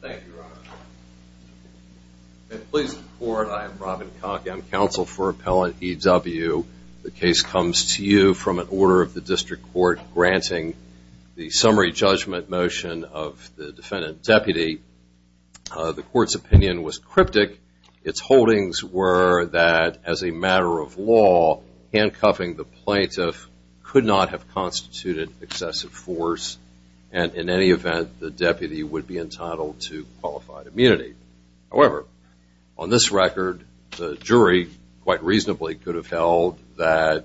Thank you, Your Honor. At Pleas of the Court, I am Robin Koch. I'm counsel for Appellant E.W. The case comes to you from an order of the District Court granting the summary judgment motion of the defendant deputy. The Court's opinion was cryptic. Its holdings were that, as a matter of law, handcuffing the plaintiff could not have constituted excessive force, and in any event, the deputy would be entitled to qualified immunity. However, on this record, the jury, quite reasonably, could have held that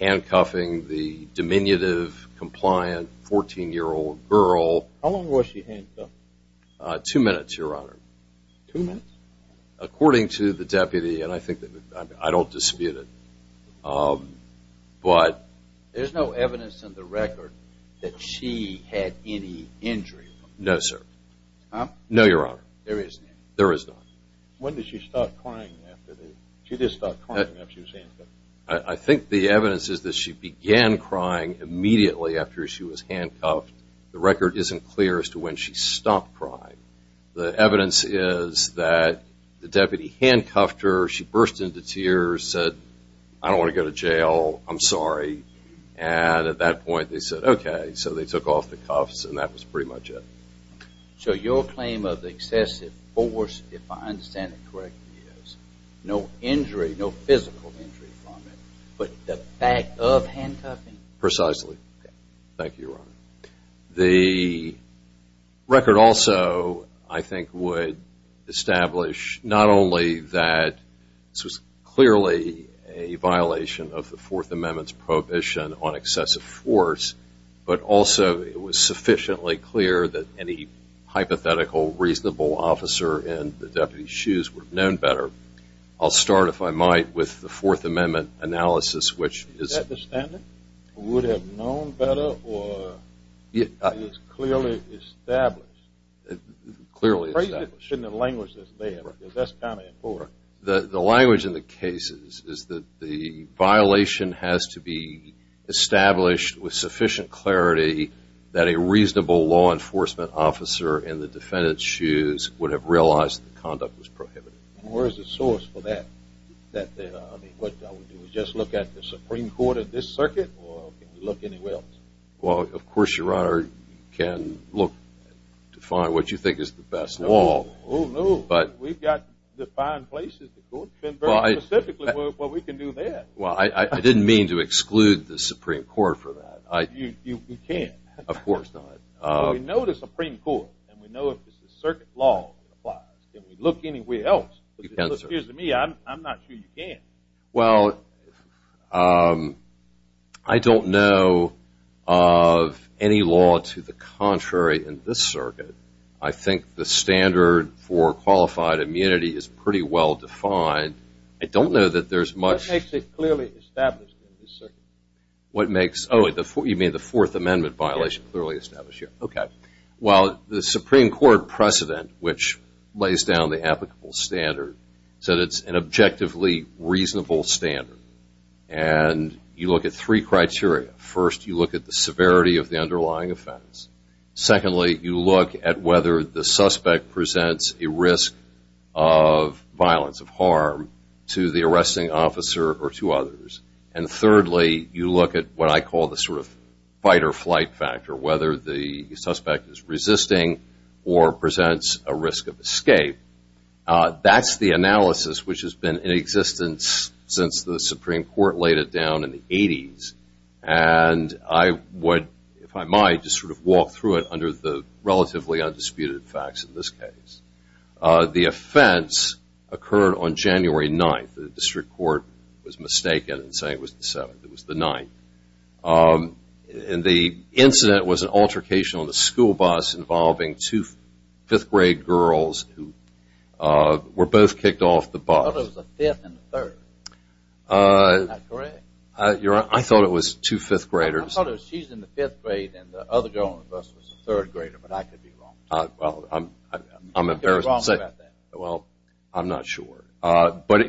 handcuffing the diminutive, compliant, 14-year-old girl... How long was she handcuffed? Two minutes, Your Honor. Two minutes? According to the deputy, and I don't dispute it, but... There's no evidence in the record that she had any injury? No, sir. No, Your Honor. There isn't? There is not. When did she start crying after the... She did start crying after she was handcuffed? I think the evidence is that she began crying immediately after she was handcuffed. The record isn't clear as to when she stopped crying. The evidence is that the deputy handcuffed her, she burst into tears, said, I don't want to go to jail, I'm sorry, and at that point they said, okay, so they took off the cuffs and that was pretty much it. So your claim of excessive force, if I understand it correctly, is no injury, no physical injury from it, but the fact of handcuffing? Precisely. Thank you, Your Honor. The record also, I think, would establish not only that this was clearly a violation of the Fourth Amendment's prohibition on excessive force, but also it was sufficiently clear that any hypothetical, reasonable officer in the deputy's shoes would have known better. I'll start, if I might, with the Fourth Amendment analysis, which is... Is that the standard? Would have known better or is clearly established? Clearly established. Shouldn't have languished this there because that's kind of important. The language in the case is that the violation has to be established with sufficient clarity that a reasonable law enforcement officer in the defendant's shoes would have realized the conduct was prohibited. And where is the source for that? That, I mean, what I would do is just look at the Supreme Court of this circuit or can you look anywhere else? Well, of course, Your Honor, you can look to find what you think is the best law. Oh, no. But we've got defined places to look and very specifically what we can do there. Well, I didn't mean to exclude the Supreme Court for that. You can't. Of course not. We know the Supreme Court and we know if it's the circuit law that applies. Can we look anywhere else? It appears to me I'm not sure you can. Well, I don't know of any law to the contrary in this circuit. I think the standard for qualified immunity is pretty well defined. I don't know that there's much- What makes it clearly established in this circuit? What makes, oh, you mean the Fourth Amendment violation clearly established here? Okay. Well, the Supreme Court precedent, which lays down the applicable standard, said it's an objectively reasonable standard. And you look at three criteria. First, you look at the severity of the underlying offense. Secondly, you look at whether the suspect presents a risk of violence, of harm to the arresting officer or to others. And thirdly, you look at what I call the sort of fight or flight factor, whether the suspect is resisting or presents a risk of escape. That's the analysis which has been in existence since the Supreme Court laid it down in the 80s. And I would, if I might, just sort of walk through it under the relatively undisputed facts in this case. The offense occurred on January 9th. The district court was mistaken in saying it was the 7th. It was the 9th. And the incident was an altercation on the school bus involving two 5th grade girls who were both kicked off the bus. I thought it was a 5th and a 3rd. Is that correct? Your Honor, I thought it was two 5th graders. I thought it was she's in the 5th grade and the other girl on the bus was a 3rd grader, but I could be wrong. Well, I'm embarrassed to say. Well, I'm not sure. But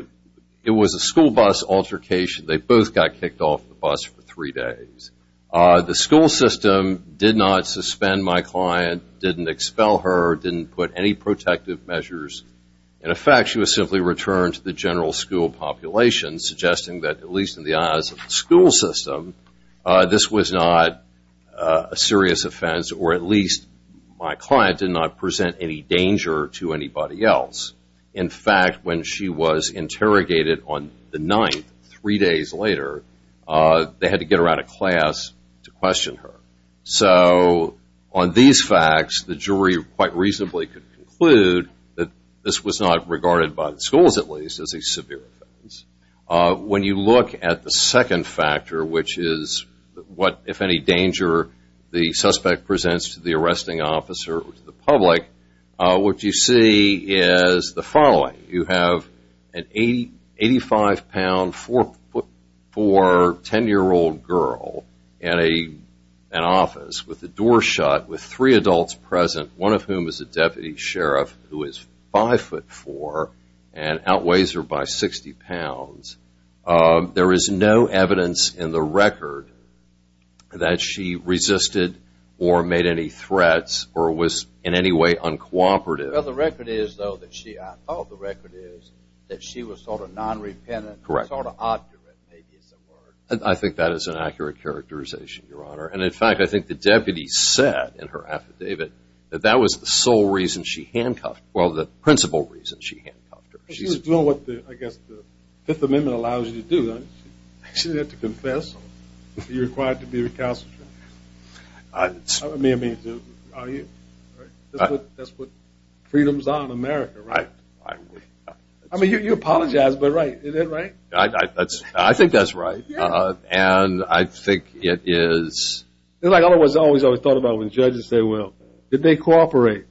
it was a school bus altercation. They both got kicked off the bus for three days. The school system did not suspend my client, didn't expel her, didn't put any protective measures in effect. She was simply returned to the general school population, suggesting that, at least in the eyes of the school system, this was not a serious offense, or at least my client did not present any danger to anybody else. In fact, when she was interrogated on the 9th, three days later, they had to get her out of class to question her. So, on these facts, the jury quite reasonably could conclude that this was not regarded by the schools, at least, as a severe offense. When you look at the second factor, which is what, if any, danger the suspect presents to the arresting officer or to the public, what you see is the following. You have an 85-pound, 4'4", 10-year-old girl in an office with the door shut, with three adults present, one of whom is a deputy sheriff who is 5'4", and outweighs her by 60 pounds. There is no evidence in the record that she resisted or made any threats or was in any way uncooperative. Well, the record is, though, that she was sort of non-repentant, sort of obdurate, maybe is the word. I think that is an accurate characterization, Your Honor. And, in fact, I think the deputy said in her affidavit that that was the sole reason she handcuffed, well, the principal reason she handcuffed her. She was doing what, I guess, the Fifth Amendment allows you to do. She didn't have to confess. You're required to be recalcitrant. I mean, that's what freedoms are in America, right? I mean, you apologize, but right. Is that right? I think that's right, and I think it is. It's like I always thought about when judges say, well, did they cooperate?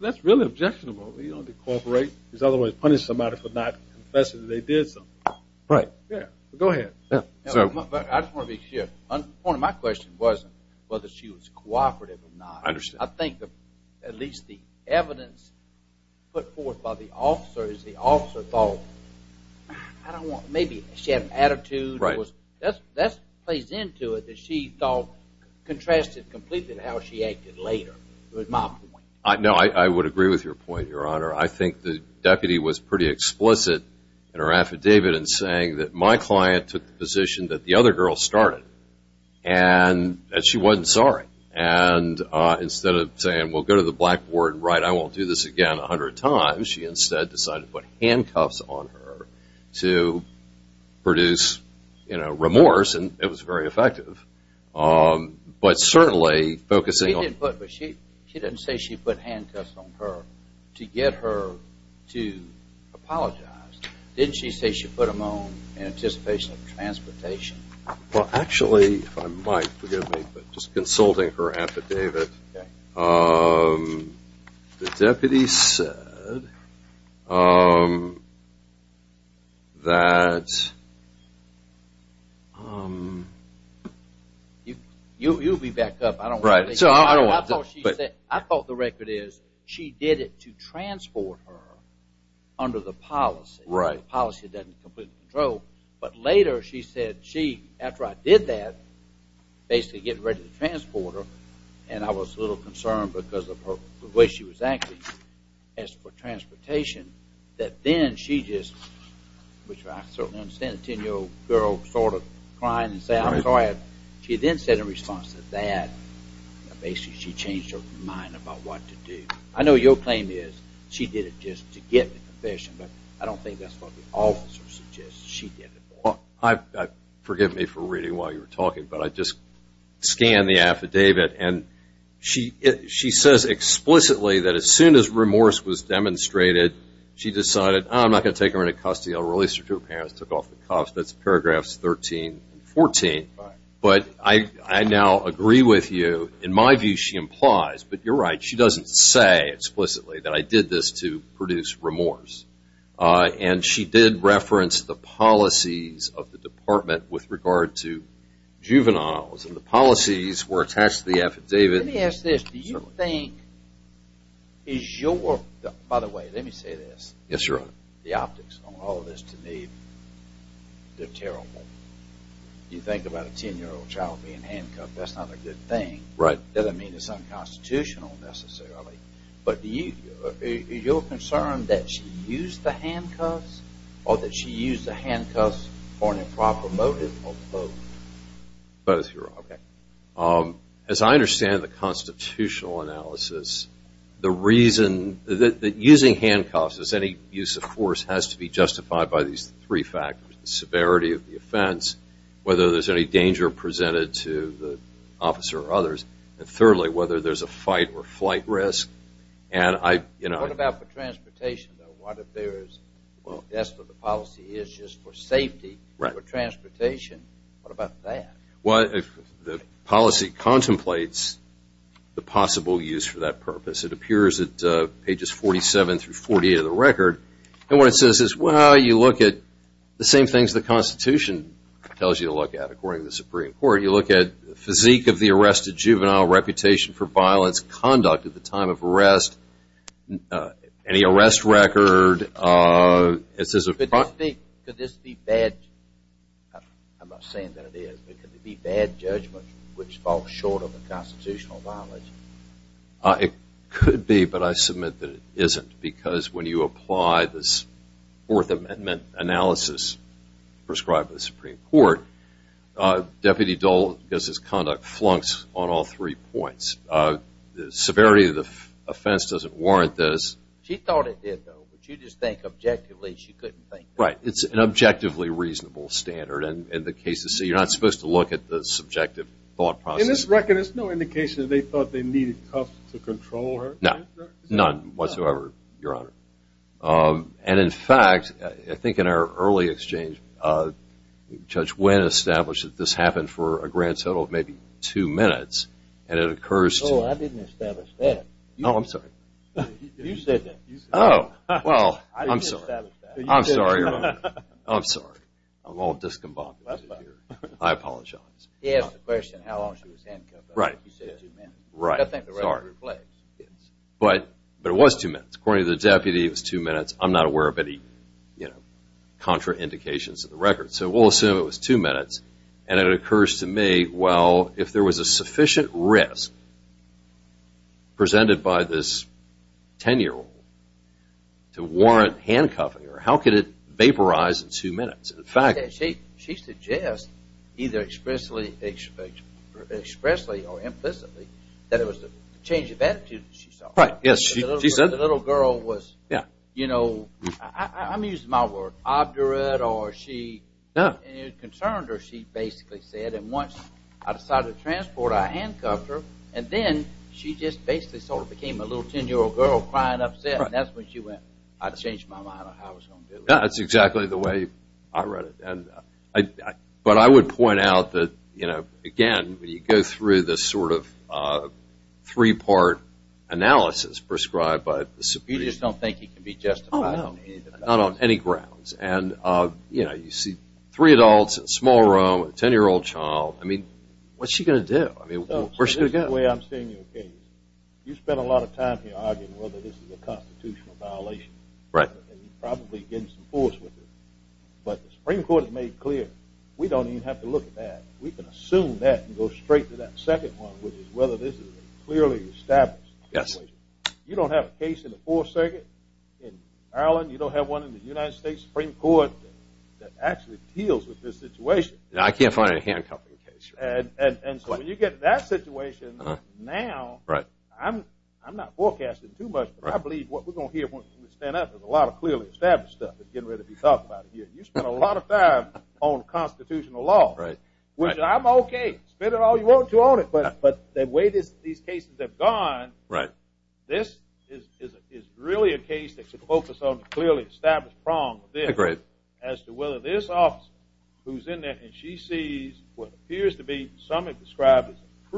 That's really objectionable. You don't decorporate. Otherwise, punish somebody for not confessing that they did something. Right. Yeah. Go ahead. I just want to be clear. One of my questions wasn't whether she was cooperative or not. I understand. I think that at least the evidence put forth by the officer is the officer thought, I don't want, maybe she had an attitude. Right. That plays into it that she thought contrasted completely to how she acted later. It was my point. No, I would agree with your point, Your Honor. I think the deputy was pretty explicit in her affidavit in saying that my client took the position that the other girl started and that she wasn't sorry. And instead of saying, well, go to the blackboard and write, I won't do this again 100 times, she instead decided to put handcuffs on her to produce, you know, remorse, and it was very effective. But certainly focusing on- She didn't put, but she didn't say she put handcuffs on her to get her to apologize. Didn't she say she put them on in anticipation of transportation? Well, actually, if I might, forgive me, but just consulting her affidavit, the deputy said that- You'll be back up. I don't want to- Right, so I don't want to- I thought the record is she did it to transport her under the policy. Right. The policy that doesn't completely control, but later she said she, after I did that, basically getting ready to transport her, and I was a little concerned because of the way she was acting as for transportation, that then she just, which I certainly understand a 10-year-old girl sort of crying and saying, I'm sorry, she then said in response to that, basically she changed her mind about what to do. I know your claim is she did it just to get the confession, but I don't think that's what the officer suggests she did it for. I, forgive me for reading while you were talking, but I just scanned the affidavit, and she says explicitly that as soon as remorse was demonstrated, she decided, I'm not going to take her into custody. I'll release her to her parents, took off the cuffs. That's paragraphs 13 and 14. Right. But I now agree with you. In my view, she implies, but you're right. She doesn't say explicitly that I did this to produce remorse, and she did reference the policies of the department with regard to juveniles, and the policies were attached to the affidavit. Let me ask this. Do you think, is your, by the way, let me say this. Yes, your honor. The optics on all of this to me, they're terrible. You think about a 10-year-old child being handcuffed. That's not a good thing. Right. Doesn't mean it's unconstitutional, necessarily. But do you, is your concern that she used the handcuffs, or that she used the handcuffs for an improper motive, or both? Both, your honor. OK. As I understand the constitutional analysis, the reason, that using handcuffs, as any use of force, has to be justified by these three factors, the severity of the offense, whether there's any danger presented to the officer or others. And thirdly, whether there's a fight or flight risk. And I, you know. What about for transportation, though? What if there's, that's what the policy is, just for safety, for transportation. What about that? Well, the policy contemplates the possible use for that purpose. It appears at pages 47 through 48 of the record. And what it says is, well, you look at the same things the Constitution tells you to look at, according to the Supreme Court. You look at physique of the arrested juvenile, reputation for violence, conduct at the time of arrest, any arrest record. It says a- Could this be bad? I'm not saying that it is. But could it be bad judgment, which falls short of the constitutional knowledge? It could be. But I submit that it isn't. Because when you apply this Fourth Amendment analysis prescribed by the Supreme Court, Deputy Dole gets his conduct flunked on all three points. Severity of the offense doesn't warrant this. She thought it did, though. But you just think objectively she couldn't think that. Right. It's an objectively reasonable standard. And in the case of C, you're not supposed to look at the subjective thought process. In this record, there's no indication that they thought they needed Cuff to control her? No. None whatsoever, Your Honor. And in fact, I think in our early exchange, Judge Wynn established that this happened for a grand total of maybe two minutes. And it occurs to- Oh, I didn't establish that. Oh, I'm sorry. You said that. Oh, well, I'm sorry. I'm sorry, Your Honor. I'm sorry. I'm all discombobulated here. I apologize. He asked the question how long she was handcuffed. Right. Right, sorry. But it was two minutes. According to the deputy, it was two minutes. I'm not aware of any, you know, contraindications to the record. So we'll assume it was two minutes. And it occurs to me, well, if there was a sufficient risk presented by this ten-year-old to warrant handcuffing, how could it vaporize in two minutes? In fact- She suggests, either expressly or implicitly, that it was the change of attitude that she saw. Right, yes, she said- The little girl was, you know, I'm using my word, obdurate, or she, and it concerned her, she basically said, and once I decided to transport her, I handcuffed her, and then she just basically sort of became a little ten-year-old girl crying upset, and that's when she went, I changed my mind on how I was going to do it. That's exactly the way I read it. But I would point out that, you know, again, when you go through this sort of three-part analysis prescribed by the Supreme Court- You just don't think he can be justified on any grounds. Oh, no, not on any grounds. And, you know, you see three adults, a small room, a ten-year-old child, I mean, what's she going to do? I mean, where's she going to go? So this is the way I'm seeing your case. You spend a lot of time here arguing whether this is a constitutional violation. Right. And you're probably getting some force with it. But the Supreme Court has made clear, we don't even have to look at that. We can assume that and go straight to that second one, which is whether this is a clearly established violation. Yes. You don't have a case in the Fourth Circuit in Maryland. You don't have one in the United States Supreme Court that actually deals with this situation. I can't find a hand-cuffing case. And so when you get to that situation now- Right. I'm not forecasting too much, but I believe what we're going to hear once we stand up is a lot of clearly established stuff that's getting ready to be talked about here. You spend a lot of time on constitutional law. Right. Which I'm okay. Spend it all you want to on it. But the way these cases have gone- Right. This is really a case that should focus on a clearly established problem with this. Agreed. As to whether this officer, who's in there and she sees what appears to be, some have described as a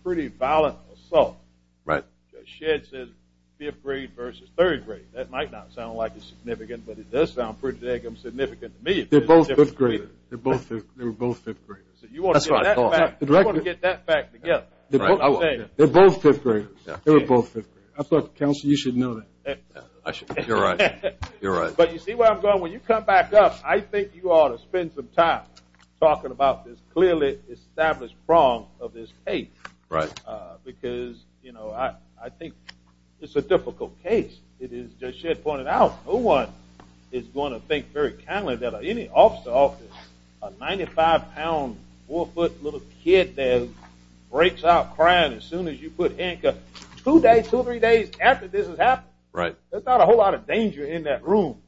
pretty violent assault. Right. Because Shedd says fifth grade versus third grade. That might not sound like it's significant, but it does sound pretty significant to me. They're both fifth graders. They're both fifth graders. That's what I thought. I want to get that fact together. They're both fifth graders. They're both fifth graders. I thought, Counselor, you should know that. You're right. You're right. But you see where I'm going? When you come back up, I think you ought to spend some time talking about this clearly established problem of this case. Right. Because, you know, I think it's a difficult case. It is, as Shedd pointed out, no one is going to think very kindly that any officer a 95-pound, 4-foot little kid that breaks out crying as soon as you put handcuffs two days, two or three days after this has happened. Right. There's not a whole lot of danger in that room.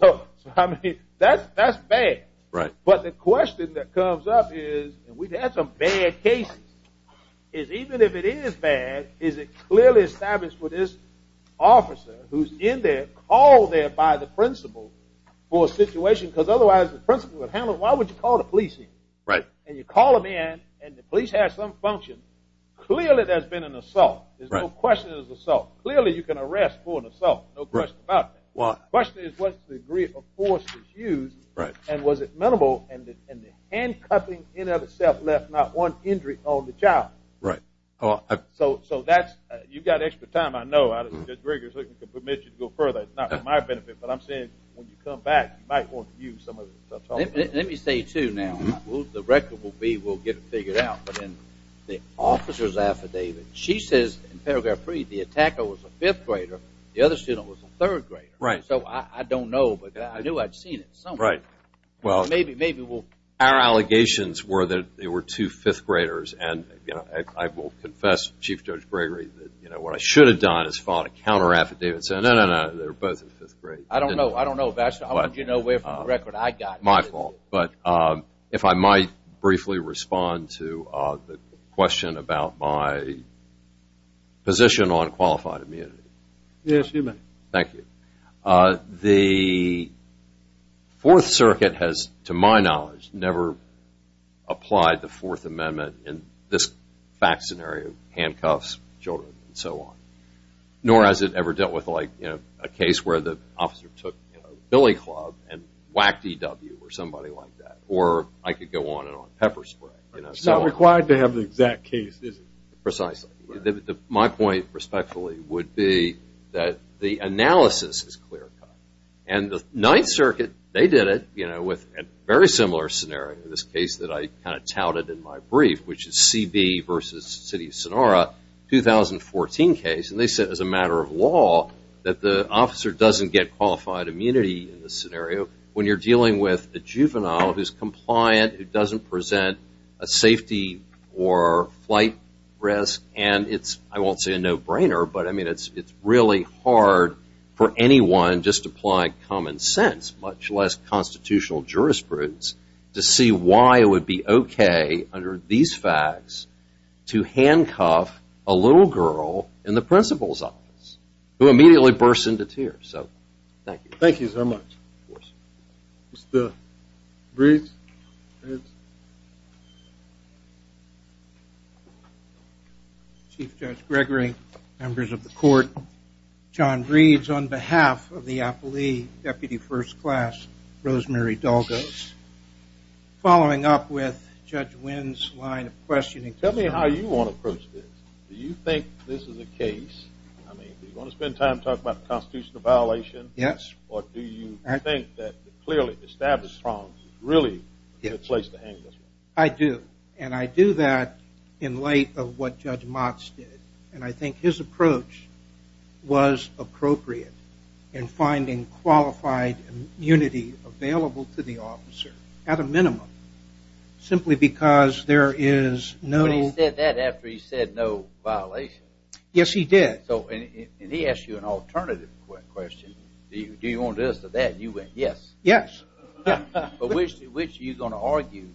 So, I mean, that's bad. Right. But the question that comes up is, and we've had some bad cases, is even if it is bad, is it clearly established with this officer who's in there, called there by the principal for a situation? Because otherwise, the principal would handle it. Why would you call the police in? Right. And you call them in, and the police have some function. Clearly, there's been an assault. There's no question it was an assault. Clearly, you can arrest for an assault. No question about that. The question is, what degree of force was used? Right. And was it minimal? And the handcuffing, in and of itself, left not one injury on the child. Right. So, that's... You've got extra time, I know. I don't think Judge Greger can permit you to go further. For my benefit, but I'm saying, when you come back, you might want to use some of the... Let me say, too, now. The record will be, we'll get it figured out. But in the officer's affidavit, she says, in paragraph three, the attacker was a fifth grader. The other student was a third grader. Right. So, I don't know, but I knew I'd seen it somewhere. Right. Well, maybe we'll... Our allegations were that they were two fifth graders. And I will confess, Chief Judge Greger, that what I should have done is followed a counter-affidavit, saying, no, no, no, they were both in fifth grade. I don't know. I don't know, Vassar. How would you know where from the record I got it? My fault. But if I might briefly respond to the question about my position on qualified immunity. Yes, you may. Thank you. The Fourth Circuit has, to my knowledge, never applied the Fourth Amendment in this fact scenario, handcuffs, children, and so on. Nor has it ever dealt with a case where the officer took Billy Club and whacked E.W. or somebody like that. Or I could go on and on, pepper spray. It's not required to have the exact case, is it? Precisely. My point, respectfully, would be that the analysis is clear-cut. And the Ninth Circuit, they did it with a very similar scenario, this case that I kind of touted in my brief, which is C.B. versus City of Sonora, 2014 case. And they said, as a matter of law, that the officer doesn't get qualified immunity in this scenario when you're dealing with a juvenile who's compliant, who doesn't present a safety or flight risk. And it's, I won't say a no-brainer, but, I mean, it's really hard for anyone just to apply common sense, much less constitutional jurisprudence, to see why it would be okay, under these facts, to handcuff a little girl in the principal's office, who immediately bursts into tears. So, thank you. Thank you so much. Of course. Mr. Breeds? Chief Judge Gregory, members of the Court, John Breeds, on behalf of the Appley Deputy First Class, Rosemary Dulgos. Following up with Judge Wynn's line of questioning. Tell me how you want to approach this. Do you think this is a case, I mean, do you want to spend time talking about the constitutional violation? Yes. Or do you think that clearly established wrongs is really a good place to hang this one? I do. And I do that in light of what Judge Motz did. And I think his approach was appropriate in finding qualified immunity available to the officer, at a minimum, simply because there is no... But he said that after he said no violation. Yes, he did. So, and he asked you an alternative question. Do you want this or that? And you went, yes. Yes. But which are you going to argue,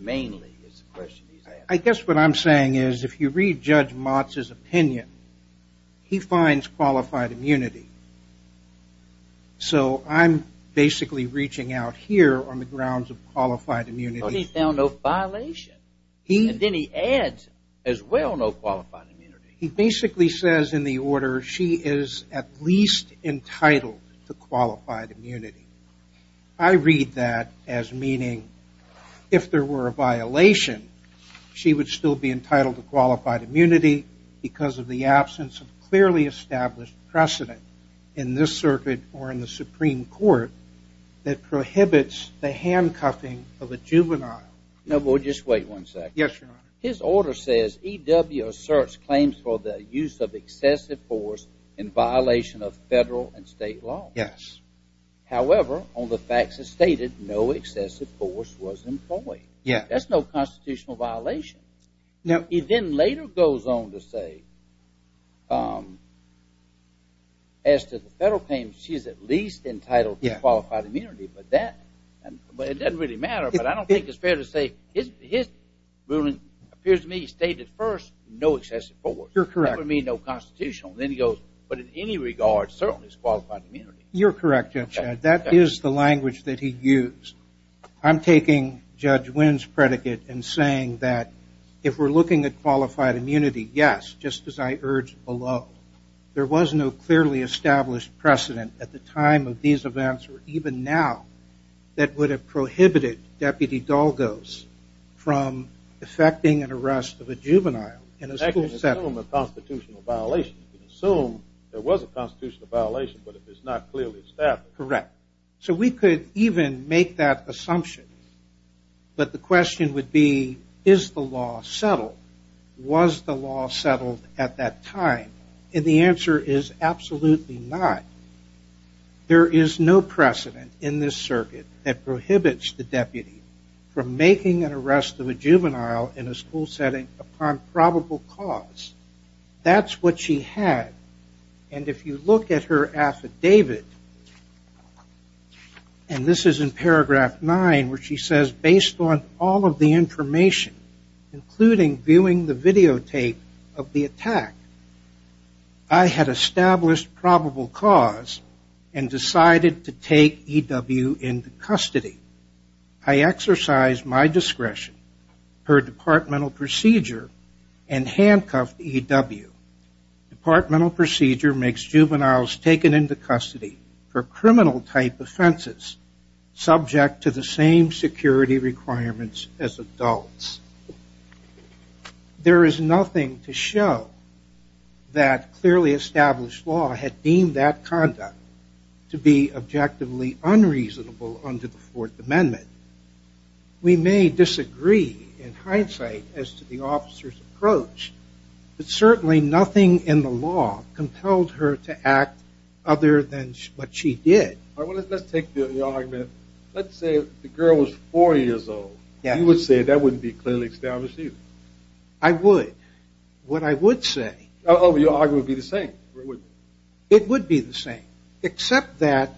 mainly, is the question he's asking. I guess what I'm saying is, if you read Judge Motz's opinion, he finds qualified immunity. So, I'm basically reaching out here on the grounds of qualified immunity. But he found no violation. And then he adds, as well, no qualified immunity. He basically says in the order, she is at least entitled to qualified immunity. I read that as meaning, if there were a violation, she would still be entitled to qualified immunity because of the absence of clearly established precedent in this circuit or in the Supreme Court that prohibits the handcuffing of a juvenile. No, but just wait one second. Yes, Your Honor. His order says, E.W. asserts claims for the use of excessive force in violation of federal and state law. Yes. However, on the facts as stated, no excessive force was employed. That's no constitutional violation. He then later goes on to say, as to the federal claims, she is at least entitled to qualified immunity. But it doesn't really matter. But I don't think it's fair to say, his ruling appears to me, he stated first, no excessive force. You're correct. That would mean no constitutional. Then he goes, but in any regard, certainly it's qualified immunity. You're correct, Judge. That is the language that he used. I'm taking Judge Wynn's predicate and saying that, if we're looking at qualified immunity, yes, just as I urged below, there was no clearly established precedent at the time of these events, or even now, that would have prohibited Deputy Dalgos from effecting an arrest of a juvenile in a school setting. You can assume a constitutional violation. You can assume there was a constitutional violation, but it's not clearly established. Correct. So we could even make that assumption. But the question would be, is the law settled? Was the law settled at that time? And the answer is absolutely not. There is no precedent in this circuit that prohibits the deputy from making an arrest of a juvenile in a school setting upon probable cause. That's what she had. And if you look at her affidavit, and this is in paragraph nine, where she says, based on all of the information, including viewing the videotape of the attack, I had established probable cause and decided to take E.W. into custody. I exercised my discretion per departmental procedure and handcuffed E.W. Departmental procedure makes juveniles taken into custody for criminal-type offenses subject to the same security requirements as adults. There is nothing to show that clearly established law had deemed that conduct to be objectively unreasonable under the Fourth Amendment. We may disagree, in hindsight, as to the officer's approach, but certainly nothing in the law compelled her to act other than what she did. Let's take the argument. Let's say the girl was four years old. You would say that wouldn't be clearly established either. I would. What I would say... Your argument would be the same. It would be the same, except that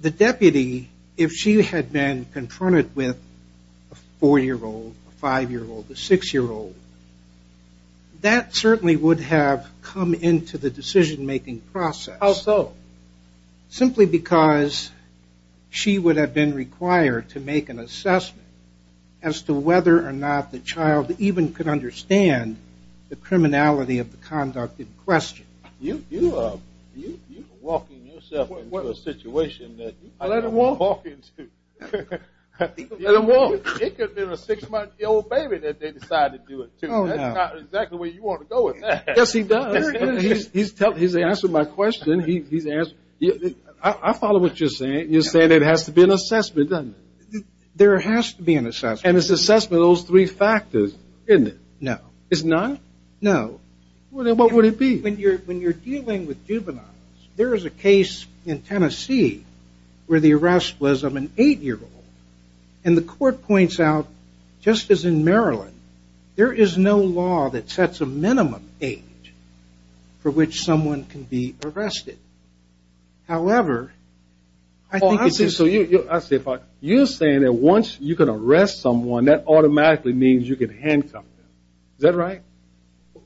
the deputy, if she had been confronted with a four-year-old, a five-year-old, a six-year-old, that certainly would have come into the decision-making process. Simply because she would have been required to make an assessment as to whether or not the child even could understand the criminality of the conduct in question. You are walking yourself into a situation that... I let him walk. It could have been a six-month-old baby that they decided to do it to. That's not exactly where you want to go with that. Yes, he does. He's answered my question. He's answered... I follow what you're saying. You're saying there has to be an assessment, doesn't it? There has to be an assessment. And it's assessment of those three factors, isn't it? No. Is none? No. What would it be? When you're dealing with juveniles, there is a case in Tennessee where the arrest was of an eight-year-old. And the court points out, just as in Maryland, there is no law that sets a minimum age for which someone can be arrested. However, I think it's just... You're saying that once you can arrest someone, that automatically means you can handcuff them. Is that right?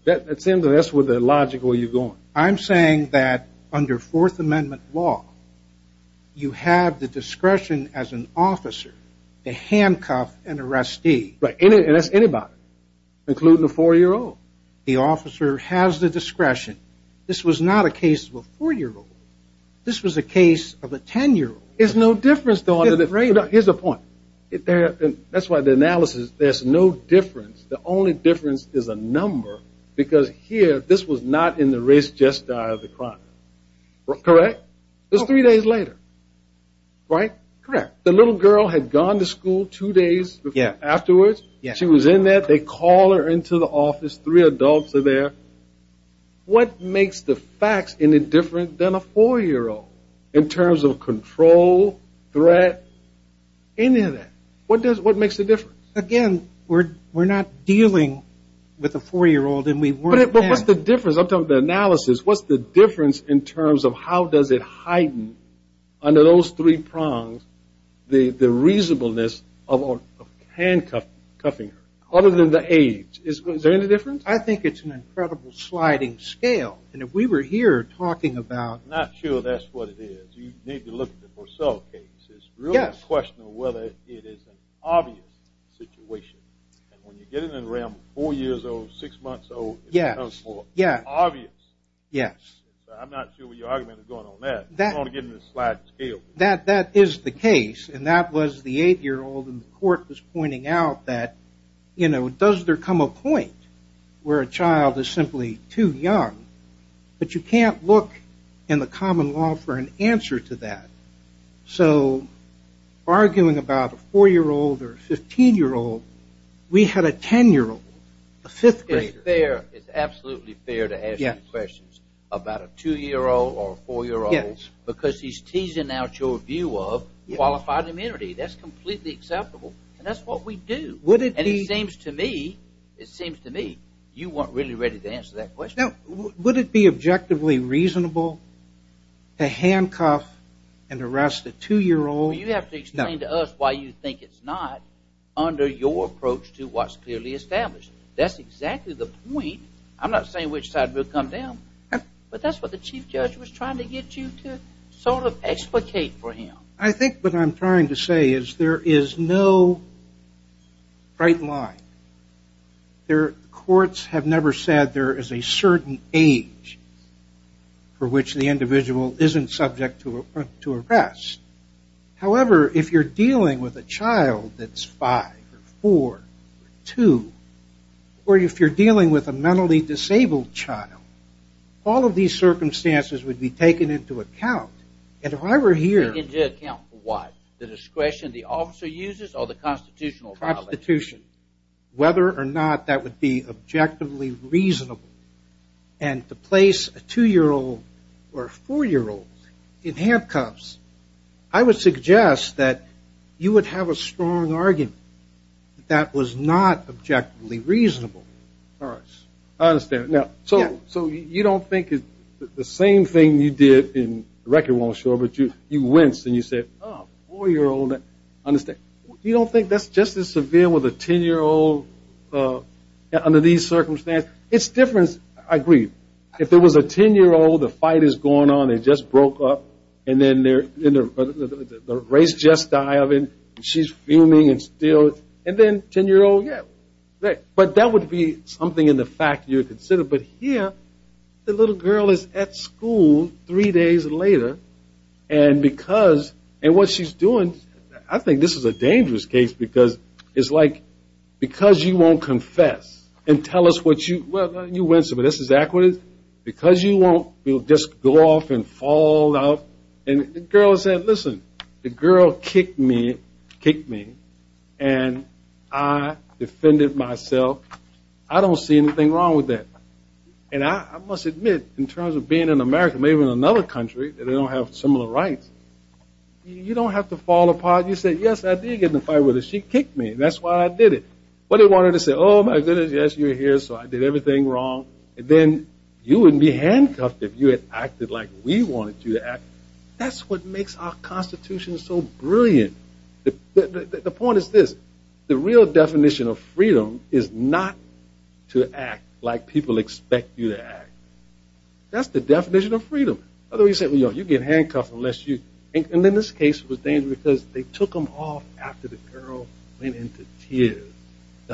It seems that's the logic where you're going. I'm saying that under Fourth Amendment law, you have the discretion as an officer to handcuff an arrestee. Right. And that's anybody, including a four-year-old. The officer has the discretion. This was not a case of a four-year-old. This was a case of a ten-year-old. There's no difference, though. Here's the point. That's why the analysis, there's no difference. The only difference is a number. Because here, this was not in the race gesture of the crime. Correct? It was three days later. Right? Correct. The little girl had gone to school two days afterwards. She was in there. They call her into the office. Three adults are there. What makes the facts any different than a four-year-old in terms of control, threat, any of that? What makes the difference? Again, we're not dealing with a four-year-old. What's the difference? I'm talking about the analysis. What's the difference in terms of how does it heighten under those three prongs the reasonableness of handcuffing her other than the age? Is there any difference? I think it's an incredible sliding scale. If we were here talking about... I'm not sure that's what it is. You need to look at the Purcell case. It's really a question of whether it is an obvious situation. When you get it in the realm of four years old, six months old, it becomes obvious. I'm not sure what your argument is going on there. That is the case. That was the eight-year-old. The court was pointing out does there come a point where a child is simply too young? You can't look in the common law for an answer to that. Arguing about a four-year-old or a 15-year-old. We had a 10-year-old. It's absolutely fair to ask you questions about a two-year-old or a four-year-old because he's teasing out your view of qualified immunity. That's completely acceptable. That's what we do. It seems to me you weren't really ready to answer that question. Would it be objectively reasonable to handcuff and arrest a two-year-old? You have to explain to us why you think it's not under your approach to what's clearly established. That's exactly the point. I'm not saying which side will come down but that's what the Chief Judge was trying to get you to sort of explicate for him. I think what I'm trying to say Courts have never said there is a certain age for which the individual isn't subject to arrest. However, if you're dealing with a child that's 5 or 4 or 2 or if you're dealing with a mentally disabled child all of these circumstances would be taken into account and if I were here Taken into account for what? The discretion the officer uses or the Constitution? The Constitution. Whether or not that would be objectively reasonable and to place a 2-year-old or a 4-year-old in handcuffs I would suggest that you would have a strong argument that that was not objectively reasonable. I understand. So you don't think the same thing you did you winced and you said 4-year-old you don't think that's just as severe as dealing with a 10-year-old under these circumstances it's different. I agree. If it was a 10-year-old the fight is going on they just broke up the race just died she's fuming and then 10-year-old but that would be something in the fact you would consider but here the little girl is at school three days later and because and what she's doing I think this is a dangerous case because you won't confess and tell us what you well you winced but this is equity because you won't just go off and fall out and the girl said listen the girl kicked me and I defended myself I don't see anything wrong with that and I must admit in terms of being in America maybe in another country they don't have similar rights you don't have to fall apart you say yes I did get in a fight with her she kicked me that's why I did it but I wanted to say oh my goodness yes you're here so I did everything wrong then you wouldn't be handcuffed if you had acted like we wanted you to act that's what makes our constitution so brilliant the point is this the real definition of freedom is not to act like people expect you to act that's the definition of freedom otherwise you get handcuffed unless you and in this case it was dangerous because they took them off after the girl went into tears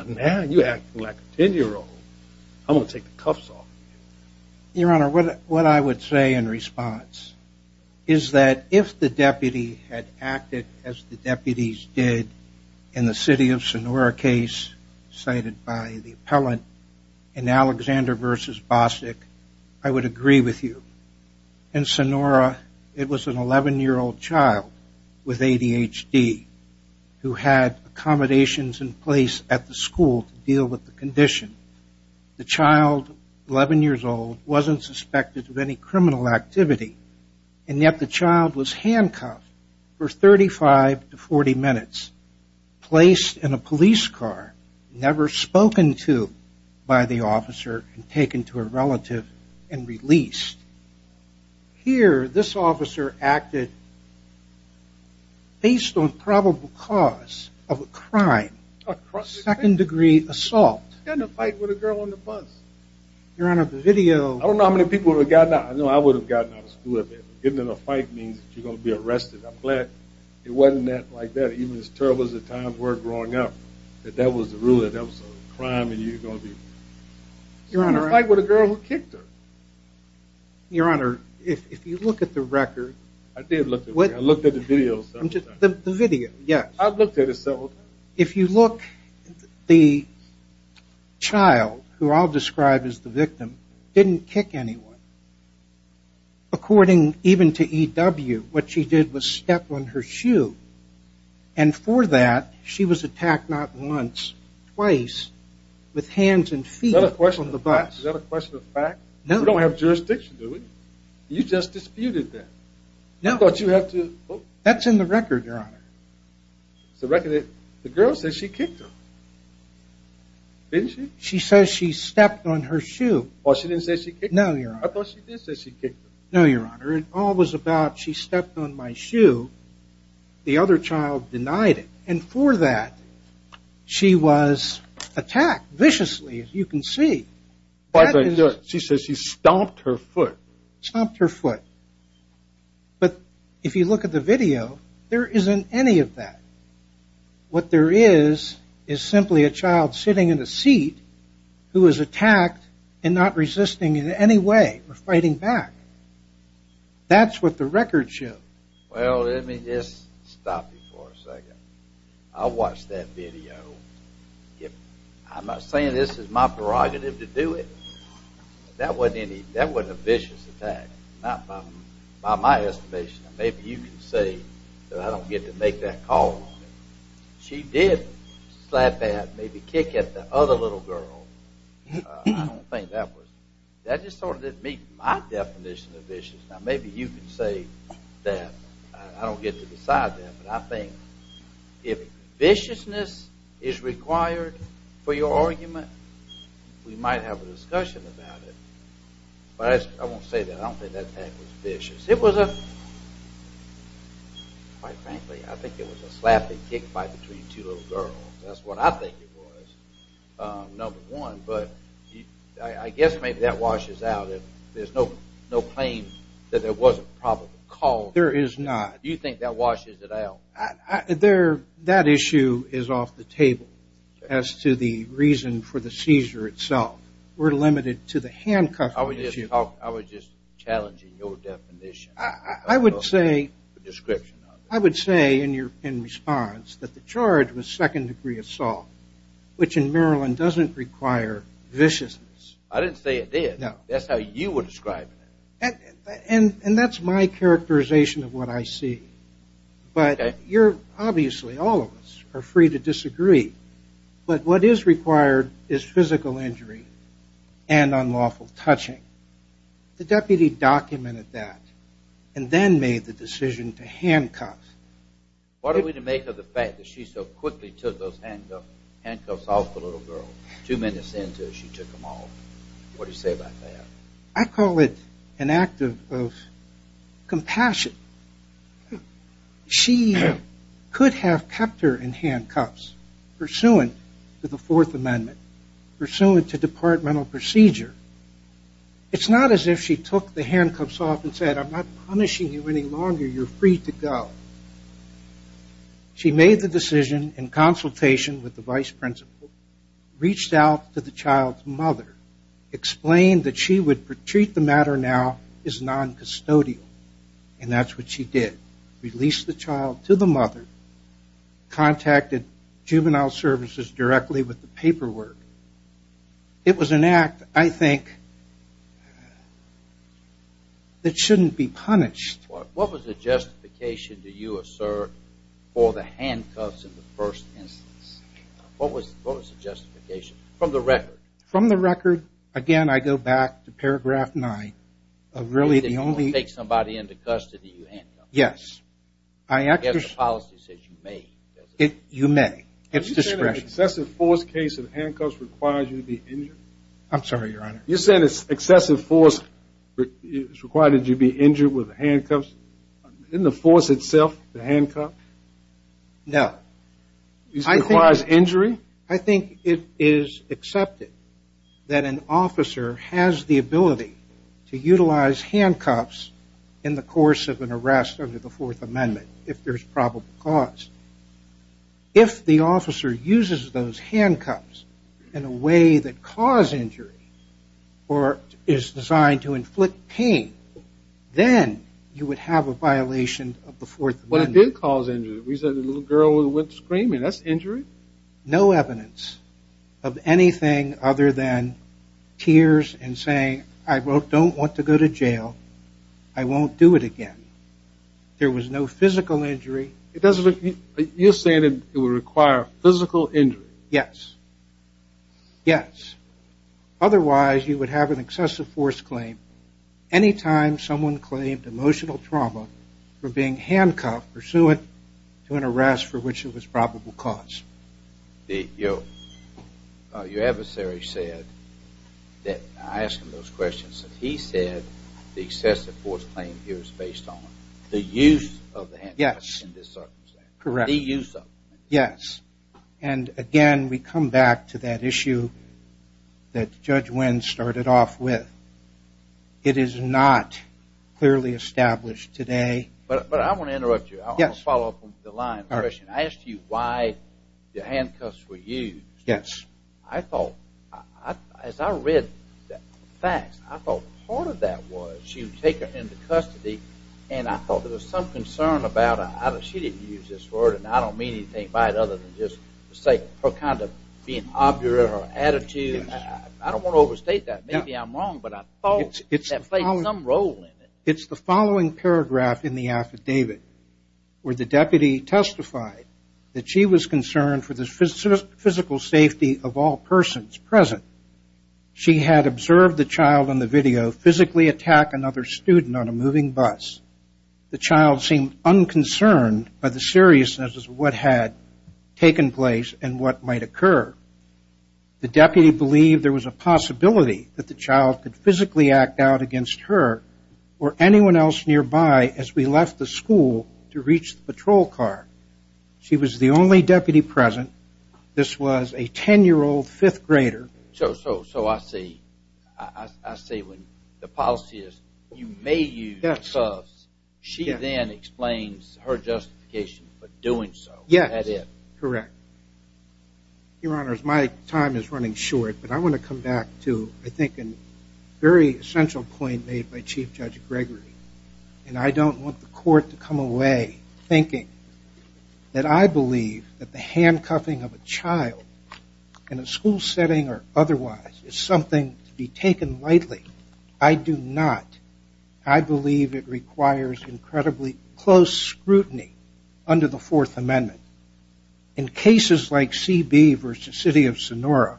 now you're acting like a ten year old I'm going to take the cuffs off of you your honor what I would say in response is that if the deputy had acted as the deputies did in the city of Sonora case cited by the appellant in Alexander vs. Bostic I would agree with you in Sonora it was an 11 year old child with ADHD who had accommodations in place at the school to deal with the condition the child 11 years old wasn't suspected of any criminal activity and yet the child was handcuffed for 35 to 40 minutes placed in a police car never spoken to by the officer taken to a relative and released here this officer acted based on probable cause of a crime second degree assault in a fight with a girl on the bus your honor the video I don't know how many people would have gotten out getting in a fight means you're going to be arrested I'm glad it wasn't like that even as terrible as the times were growing up that that was the rule that that was a crime in a fight with a girl who kicked her your honor if you look at the record I did look at the record I looked at the video I looked at it several times if you look the child who I'll describe as the victim didn't kick anyone according even to E.W. what she did was step on her shoe and for that she was attacked not once, twice with hands and feet on the bus we don't have jurisdiction you just disputed that that's in the record your honor the record the girl says she kicked her didn't she she says she stepped on her shoe or she didn't say she kicked her no your honor it all was about she stepped on my shoe the other child denied it and for that she was attacked viciously as you can see she says she stomped her foot stomped her foot but if you look at the video there isn't any of that what there is is simply a child sitting in a seat who is attacked and not resisting in any way fighting back that's what the record shows well let me just stop you for a second I watched that video I'm not saying this is my prerogative to do it that wasn't a vicious attack not by my estimation maybe you can say that I don't get to make that call she did slap maybe kick at the other little girl I don't think that was that just sort of didn't meet my definition of vicious maybe you can say that I don't get to decide that but I think if viciousness is required for your argument we might have a discussion about it but I won't say that I don't think that attack was vicious it was a quite frankly I think it was a slapping kick fight between two little girls that's what I think it was number one but I guess maybe that washes out there's no claim that there was a probable cause there is not do you think that washes it out that issue is off the table as to the reason for the seizure itself we're limited to the handcuffs I was just challenging your definition I would say I would say in response that the charge was second degree assault which in Maryland doesn't require viciousness I didn't say it did that's how you were describing it and that's my characterization of what I see but obviously all of us are free to disagree but what is required is physical injury and unlawful touching the deputy documented that and then made the decision to handcuff what are we to make of the fact that she so quickly took those handcuffs off the little girl two minutes into it she took them off what do you say about that I call it an act of compassion she could have kept her in handcuffs pursuant to the fourth amendment pursuant to departmental procedure it's not as if she took the handcuffs off and said I'm not punishing you any longer you're free to go she made the decision in consultation with the vice principal reached out to the child's mother explained that she would treat the matter now as non-custodial and that's what she did released the child to the mother contacted juvenile services directly with the paperwork it was an act I think that shouldn't be punished what was the justification for the handcuffs in the first instance what was the justification from the record from the record again I go back to paragraph 9 really the only yes I actually you may excessive force requires you to be injured I'm sorry your honor excessive force requires you to be injured in the force itself the handcuffs no requires injury I think it is accepted that an officer has the ability to utilize handcuffs in the course of an arrest under the fourth amendment if there's probable cause if the officer uses those handcuffs in a way that cause injury or is designed to inflict pain then you would have a violation of the fourth amendment no evidence of anything other than tears and saying I don't want to go to jail I won't do it again there was no physical injury you're saying it would require physical injury yes yes otherwise you would have an excessive force claim anytime someone claimed emotional trauma from being handcuffed pursuant to an arrest for which it was probable cause your adversary said that I asked him those questions he said the excessive force claim here is based on the use of the handcuffs correct yes and again we come back to that issue that judge winds started off with it is not clearly established today but I want to interrupt you I want to follow up on the line I asked you why the handcuffs were used yes I thought as I read the facts I thought part of that was she would take her into custody and I thought there was some concern she didn't use this word and I don't mean anything by it other than her kind of being obdurate or attitude I don't want to overstate that maybe I'm wrong it's the following paragraph in the affidavit where the deputy testified that she was concerned for the physical safety of all persons present she had observed the child in the video physically attack another student on a moving bus the child seemed unconcerned by the seriousness of what had taken place and what might occur the deputy believed there was a possibility that the child could physically act out against her or anyone else nearby as we left the school to reach the patrol car she was the only deputy present this was a ten year old fifth grader so I see I see when the policy is you may use cuffs she then explains her justification for doing so yes correct your honors my time is running short but I want to come back to I think a very essential point made by Chief Judge Gregory and I don't want the court to come away thinking that I believe that the handcuffing of a child in a school setting or otherwise is something to be taken lightly I do not I believe it requires incredibly close scrutiny under the fourth amendment in cases like CB vs City of Sonora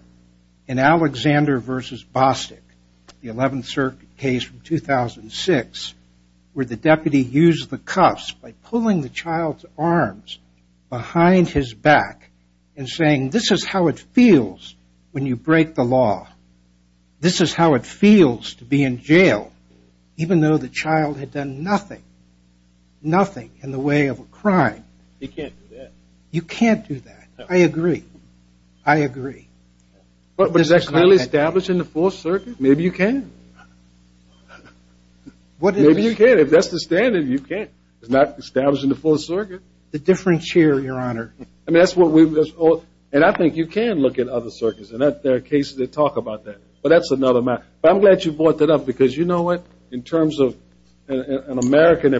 in Alexander vs. Bostic the 11th circuit case 2006 where the deputy used the cuffs by pulling the child's arms behind his back and saying this is how it feels when you break the law this is how it feels to be in jail even though the child had done nothing nothing in the way of a crime he can't do that you can't do that I agree but is that really establishing the fourth circuit maybe you can maybe you can if that's the standard you can it's not establishing the fourth circuit the different chair your honor and I think you can look at other circuits and there are cases that talk about that but that's another matter but I'm glad you brought that up because you know what in terms of an American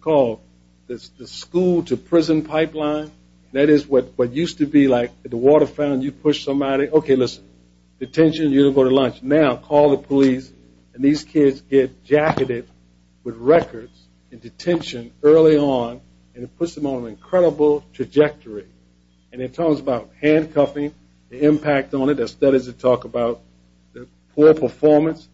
called the school to prison pipeline that is what used to be like the water fountain you push somebody now call the police and these kids get jacketed with records in detention early on and it puts them on an incredible trajectory and it talks about handcuffing the impact on it there are studies that talk about poor performance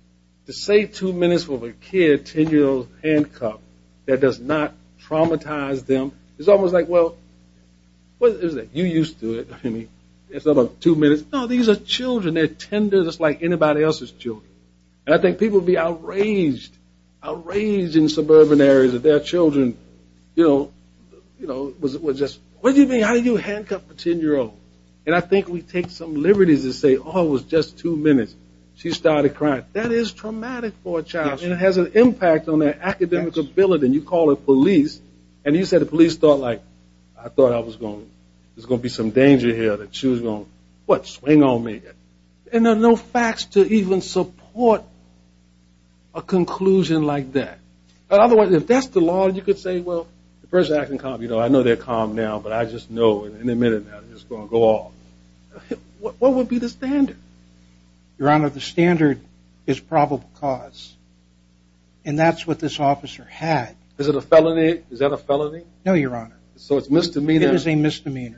to say two minutes for a kid ten year old handcuffed that does not traumatize them it's almost like well you used to it it's about two minutes no these are children they're tender just like anybody else's children and I think people would be outraged outraged in suburban areas that their children what do you mean how do you handcuff a ten year old and I think we take some liberties and say oh it was just two minutes she started crying that is traumatic for a child it has an impact on their academic ability and you call the police and you say the police thought there's going to be some danger here that she was going to swing on me and there are no facts to even support a conclusion like that otherwise if that's the law you could say the person acting calm I know they're calm now but I just know in a minute it's going to go off what would be the standard your honor the standard is probable cause and that's what this officer had is it a felony no your honor so it's misdemeanor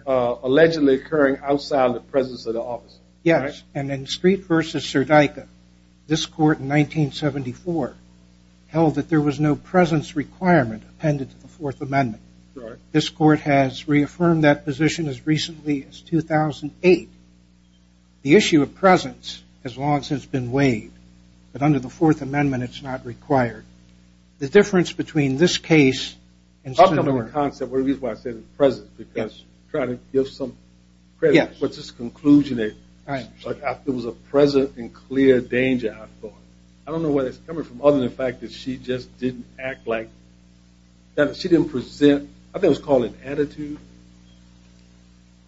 allegedly occurring outside the presence of the officer yes and in Street vs. Serdica this court in 1974 held that there was no presence requirement appended to the 4th amendment this court has reaffirmed that position as recently as 2008 the issue of presence has long since been waived but under the 4th amendment it's not required the difference between this case talk about the concept the reason I said presence because I'm trying to give some what's this conclusion there was a present and clear danger I don't know where that's coming from other than the fact that she just didn't act like she didn't present I think it was called an attitude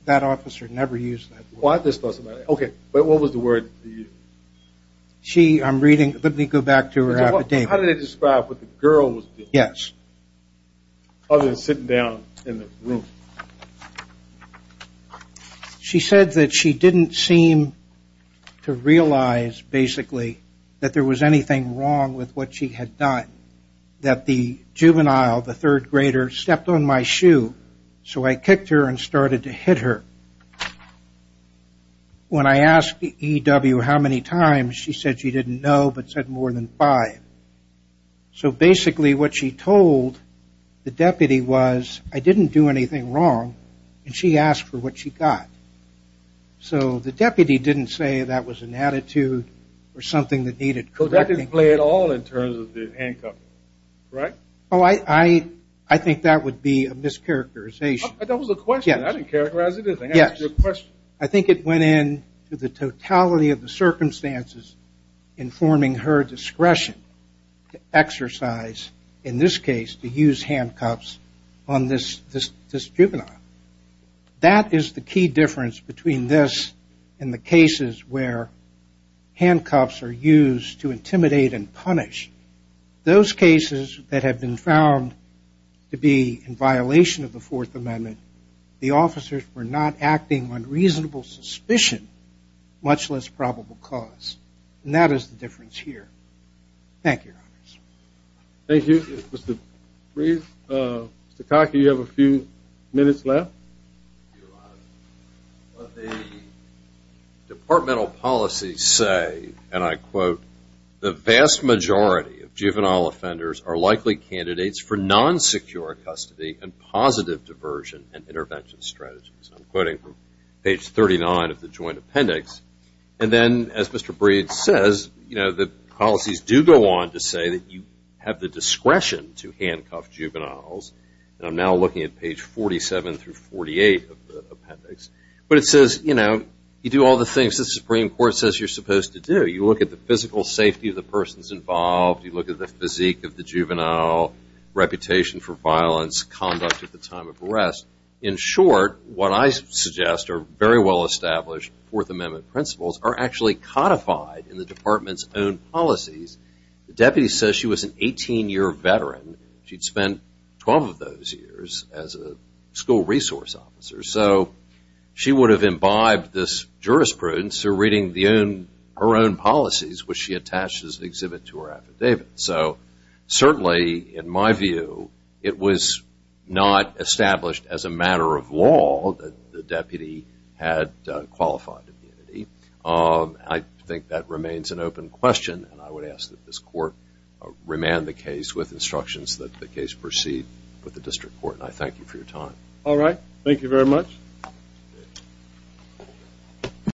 that officer never used that but what was the word she I'm reading let me go back to her how did they describe what the girl was doing other than sitting down in the room she said that she didn't seem to realize basically that there was anything wrong with what she had done that the juvenile the 3rd grader stepped on my shoe so I kicked her and started to hit her when I asked the E.W. how many times she said she didn't know but said more than 5 so basically what she told the deputy was I didn't do anything wrong and she asked for what she got so the deputy didn't say that was an attitude or something that needed correcting so that didn't play at all in terms of the handcuffs right I think that would be a mischaracterization that was a question I didn't characterize anything I think it went in to the totality of the circumstances informing her discretion to exercise in this case to use handcuffs on this juvenile that is the key difference between this and the cases where handcuffs are used to intimidate and punish those cases that have been found to be in violation of the 4th amendment the officers were not acting on reasonable suspicion much less probable cause and that is the difference here thank you thank you Mr. Breed you have a few minutes left what the departmental policies say and I quote the vast majority of juvenile offenders are likely candidates for non-secure custody and positive diversion and intervention strategies I'm quoting from page 39 of the joint appendix and then as Mr. Breed says you know the policies do go on to say that you have the discretion to handcuff juveniles and I'm now looking at page 47 through 48 of the appendix but it says you know you do all the things the supreme court says you're supposed to do you look at the physical safety of the persons involved, you look at the physique of the juvenile, reputation for violence, conduct at the time of arrest, in short what I suggest are very well established 4th amendment principles are actually codified in the departments own policies the deputy says she was an 18 year veteran she'd spent 12 of those years as a school resource officer so she would have imbibed this jurisprudence through reading her own policies which she attached as an exhibit to her affidavit so certainly in my view it was not established as a matter of law that the deputy had qualified immunity I think that remains an open question and I would ask that this court remand the case with instructions that the case proceed with the district court and I thank you for your time Alright, thank you very much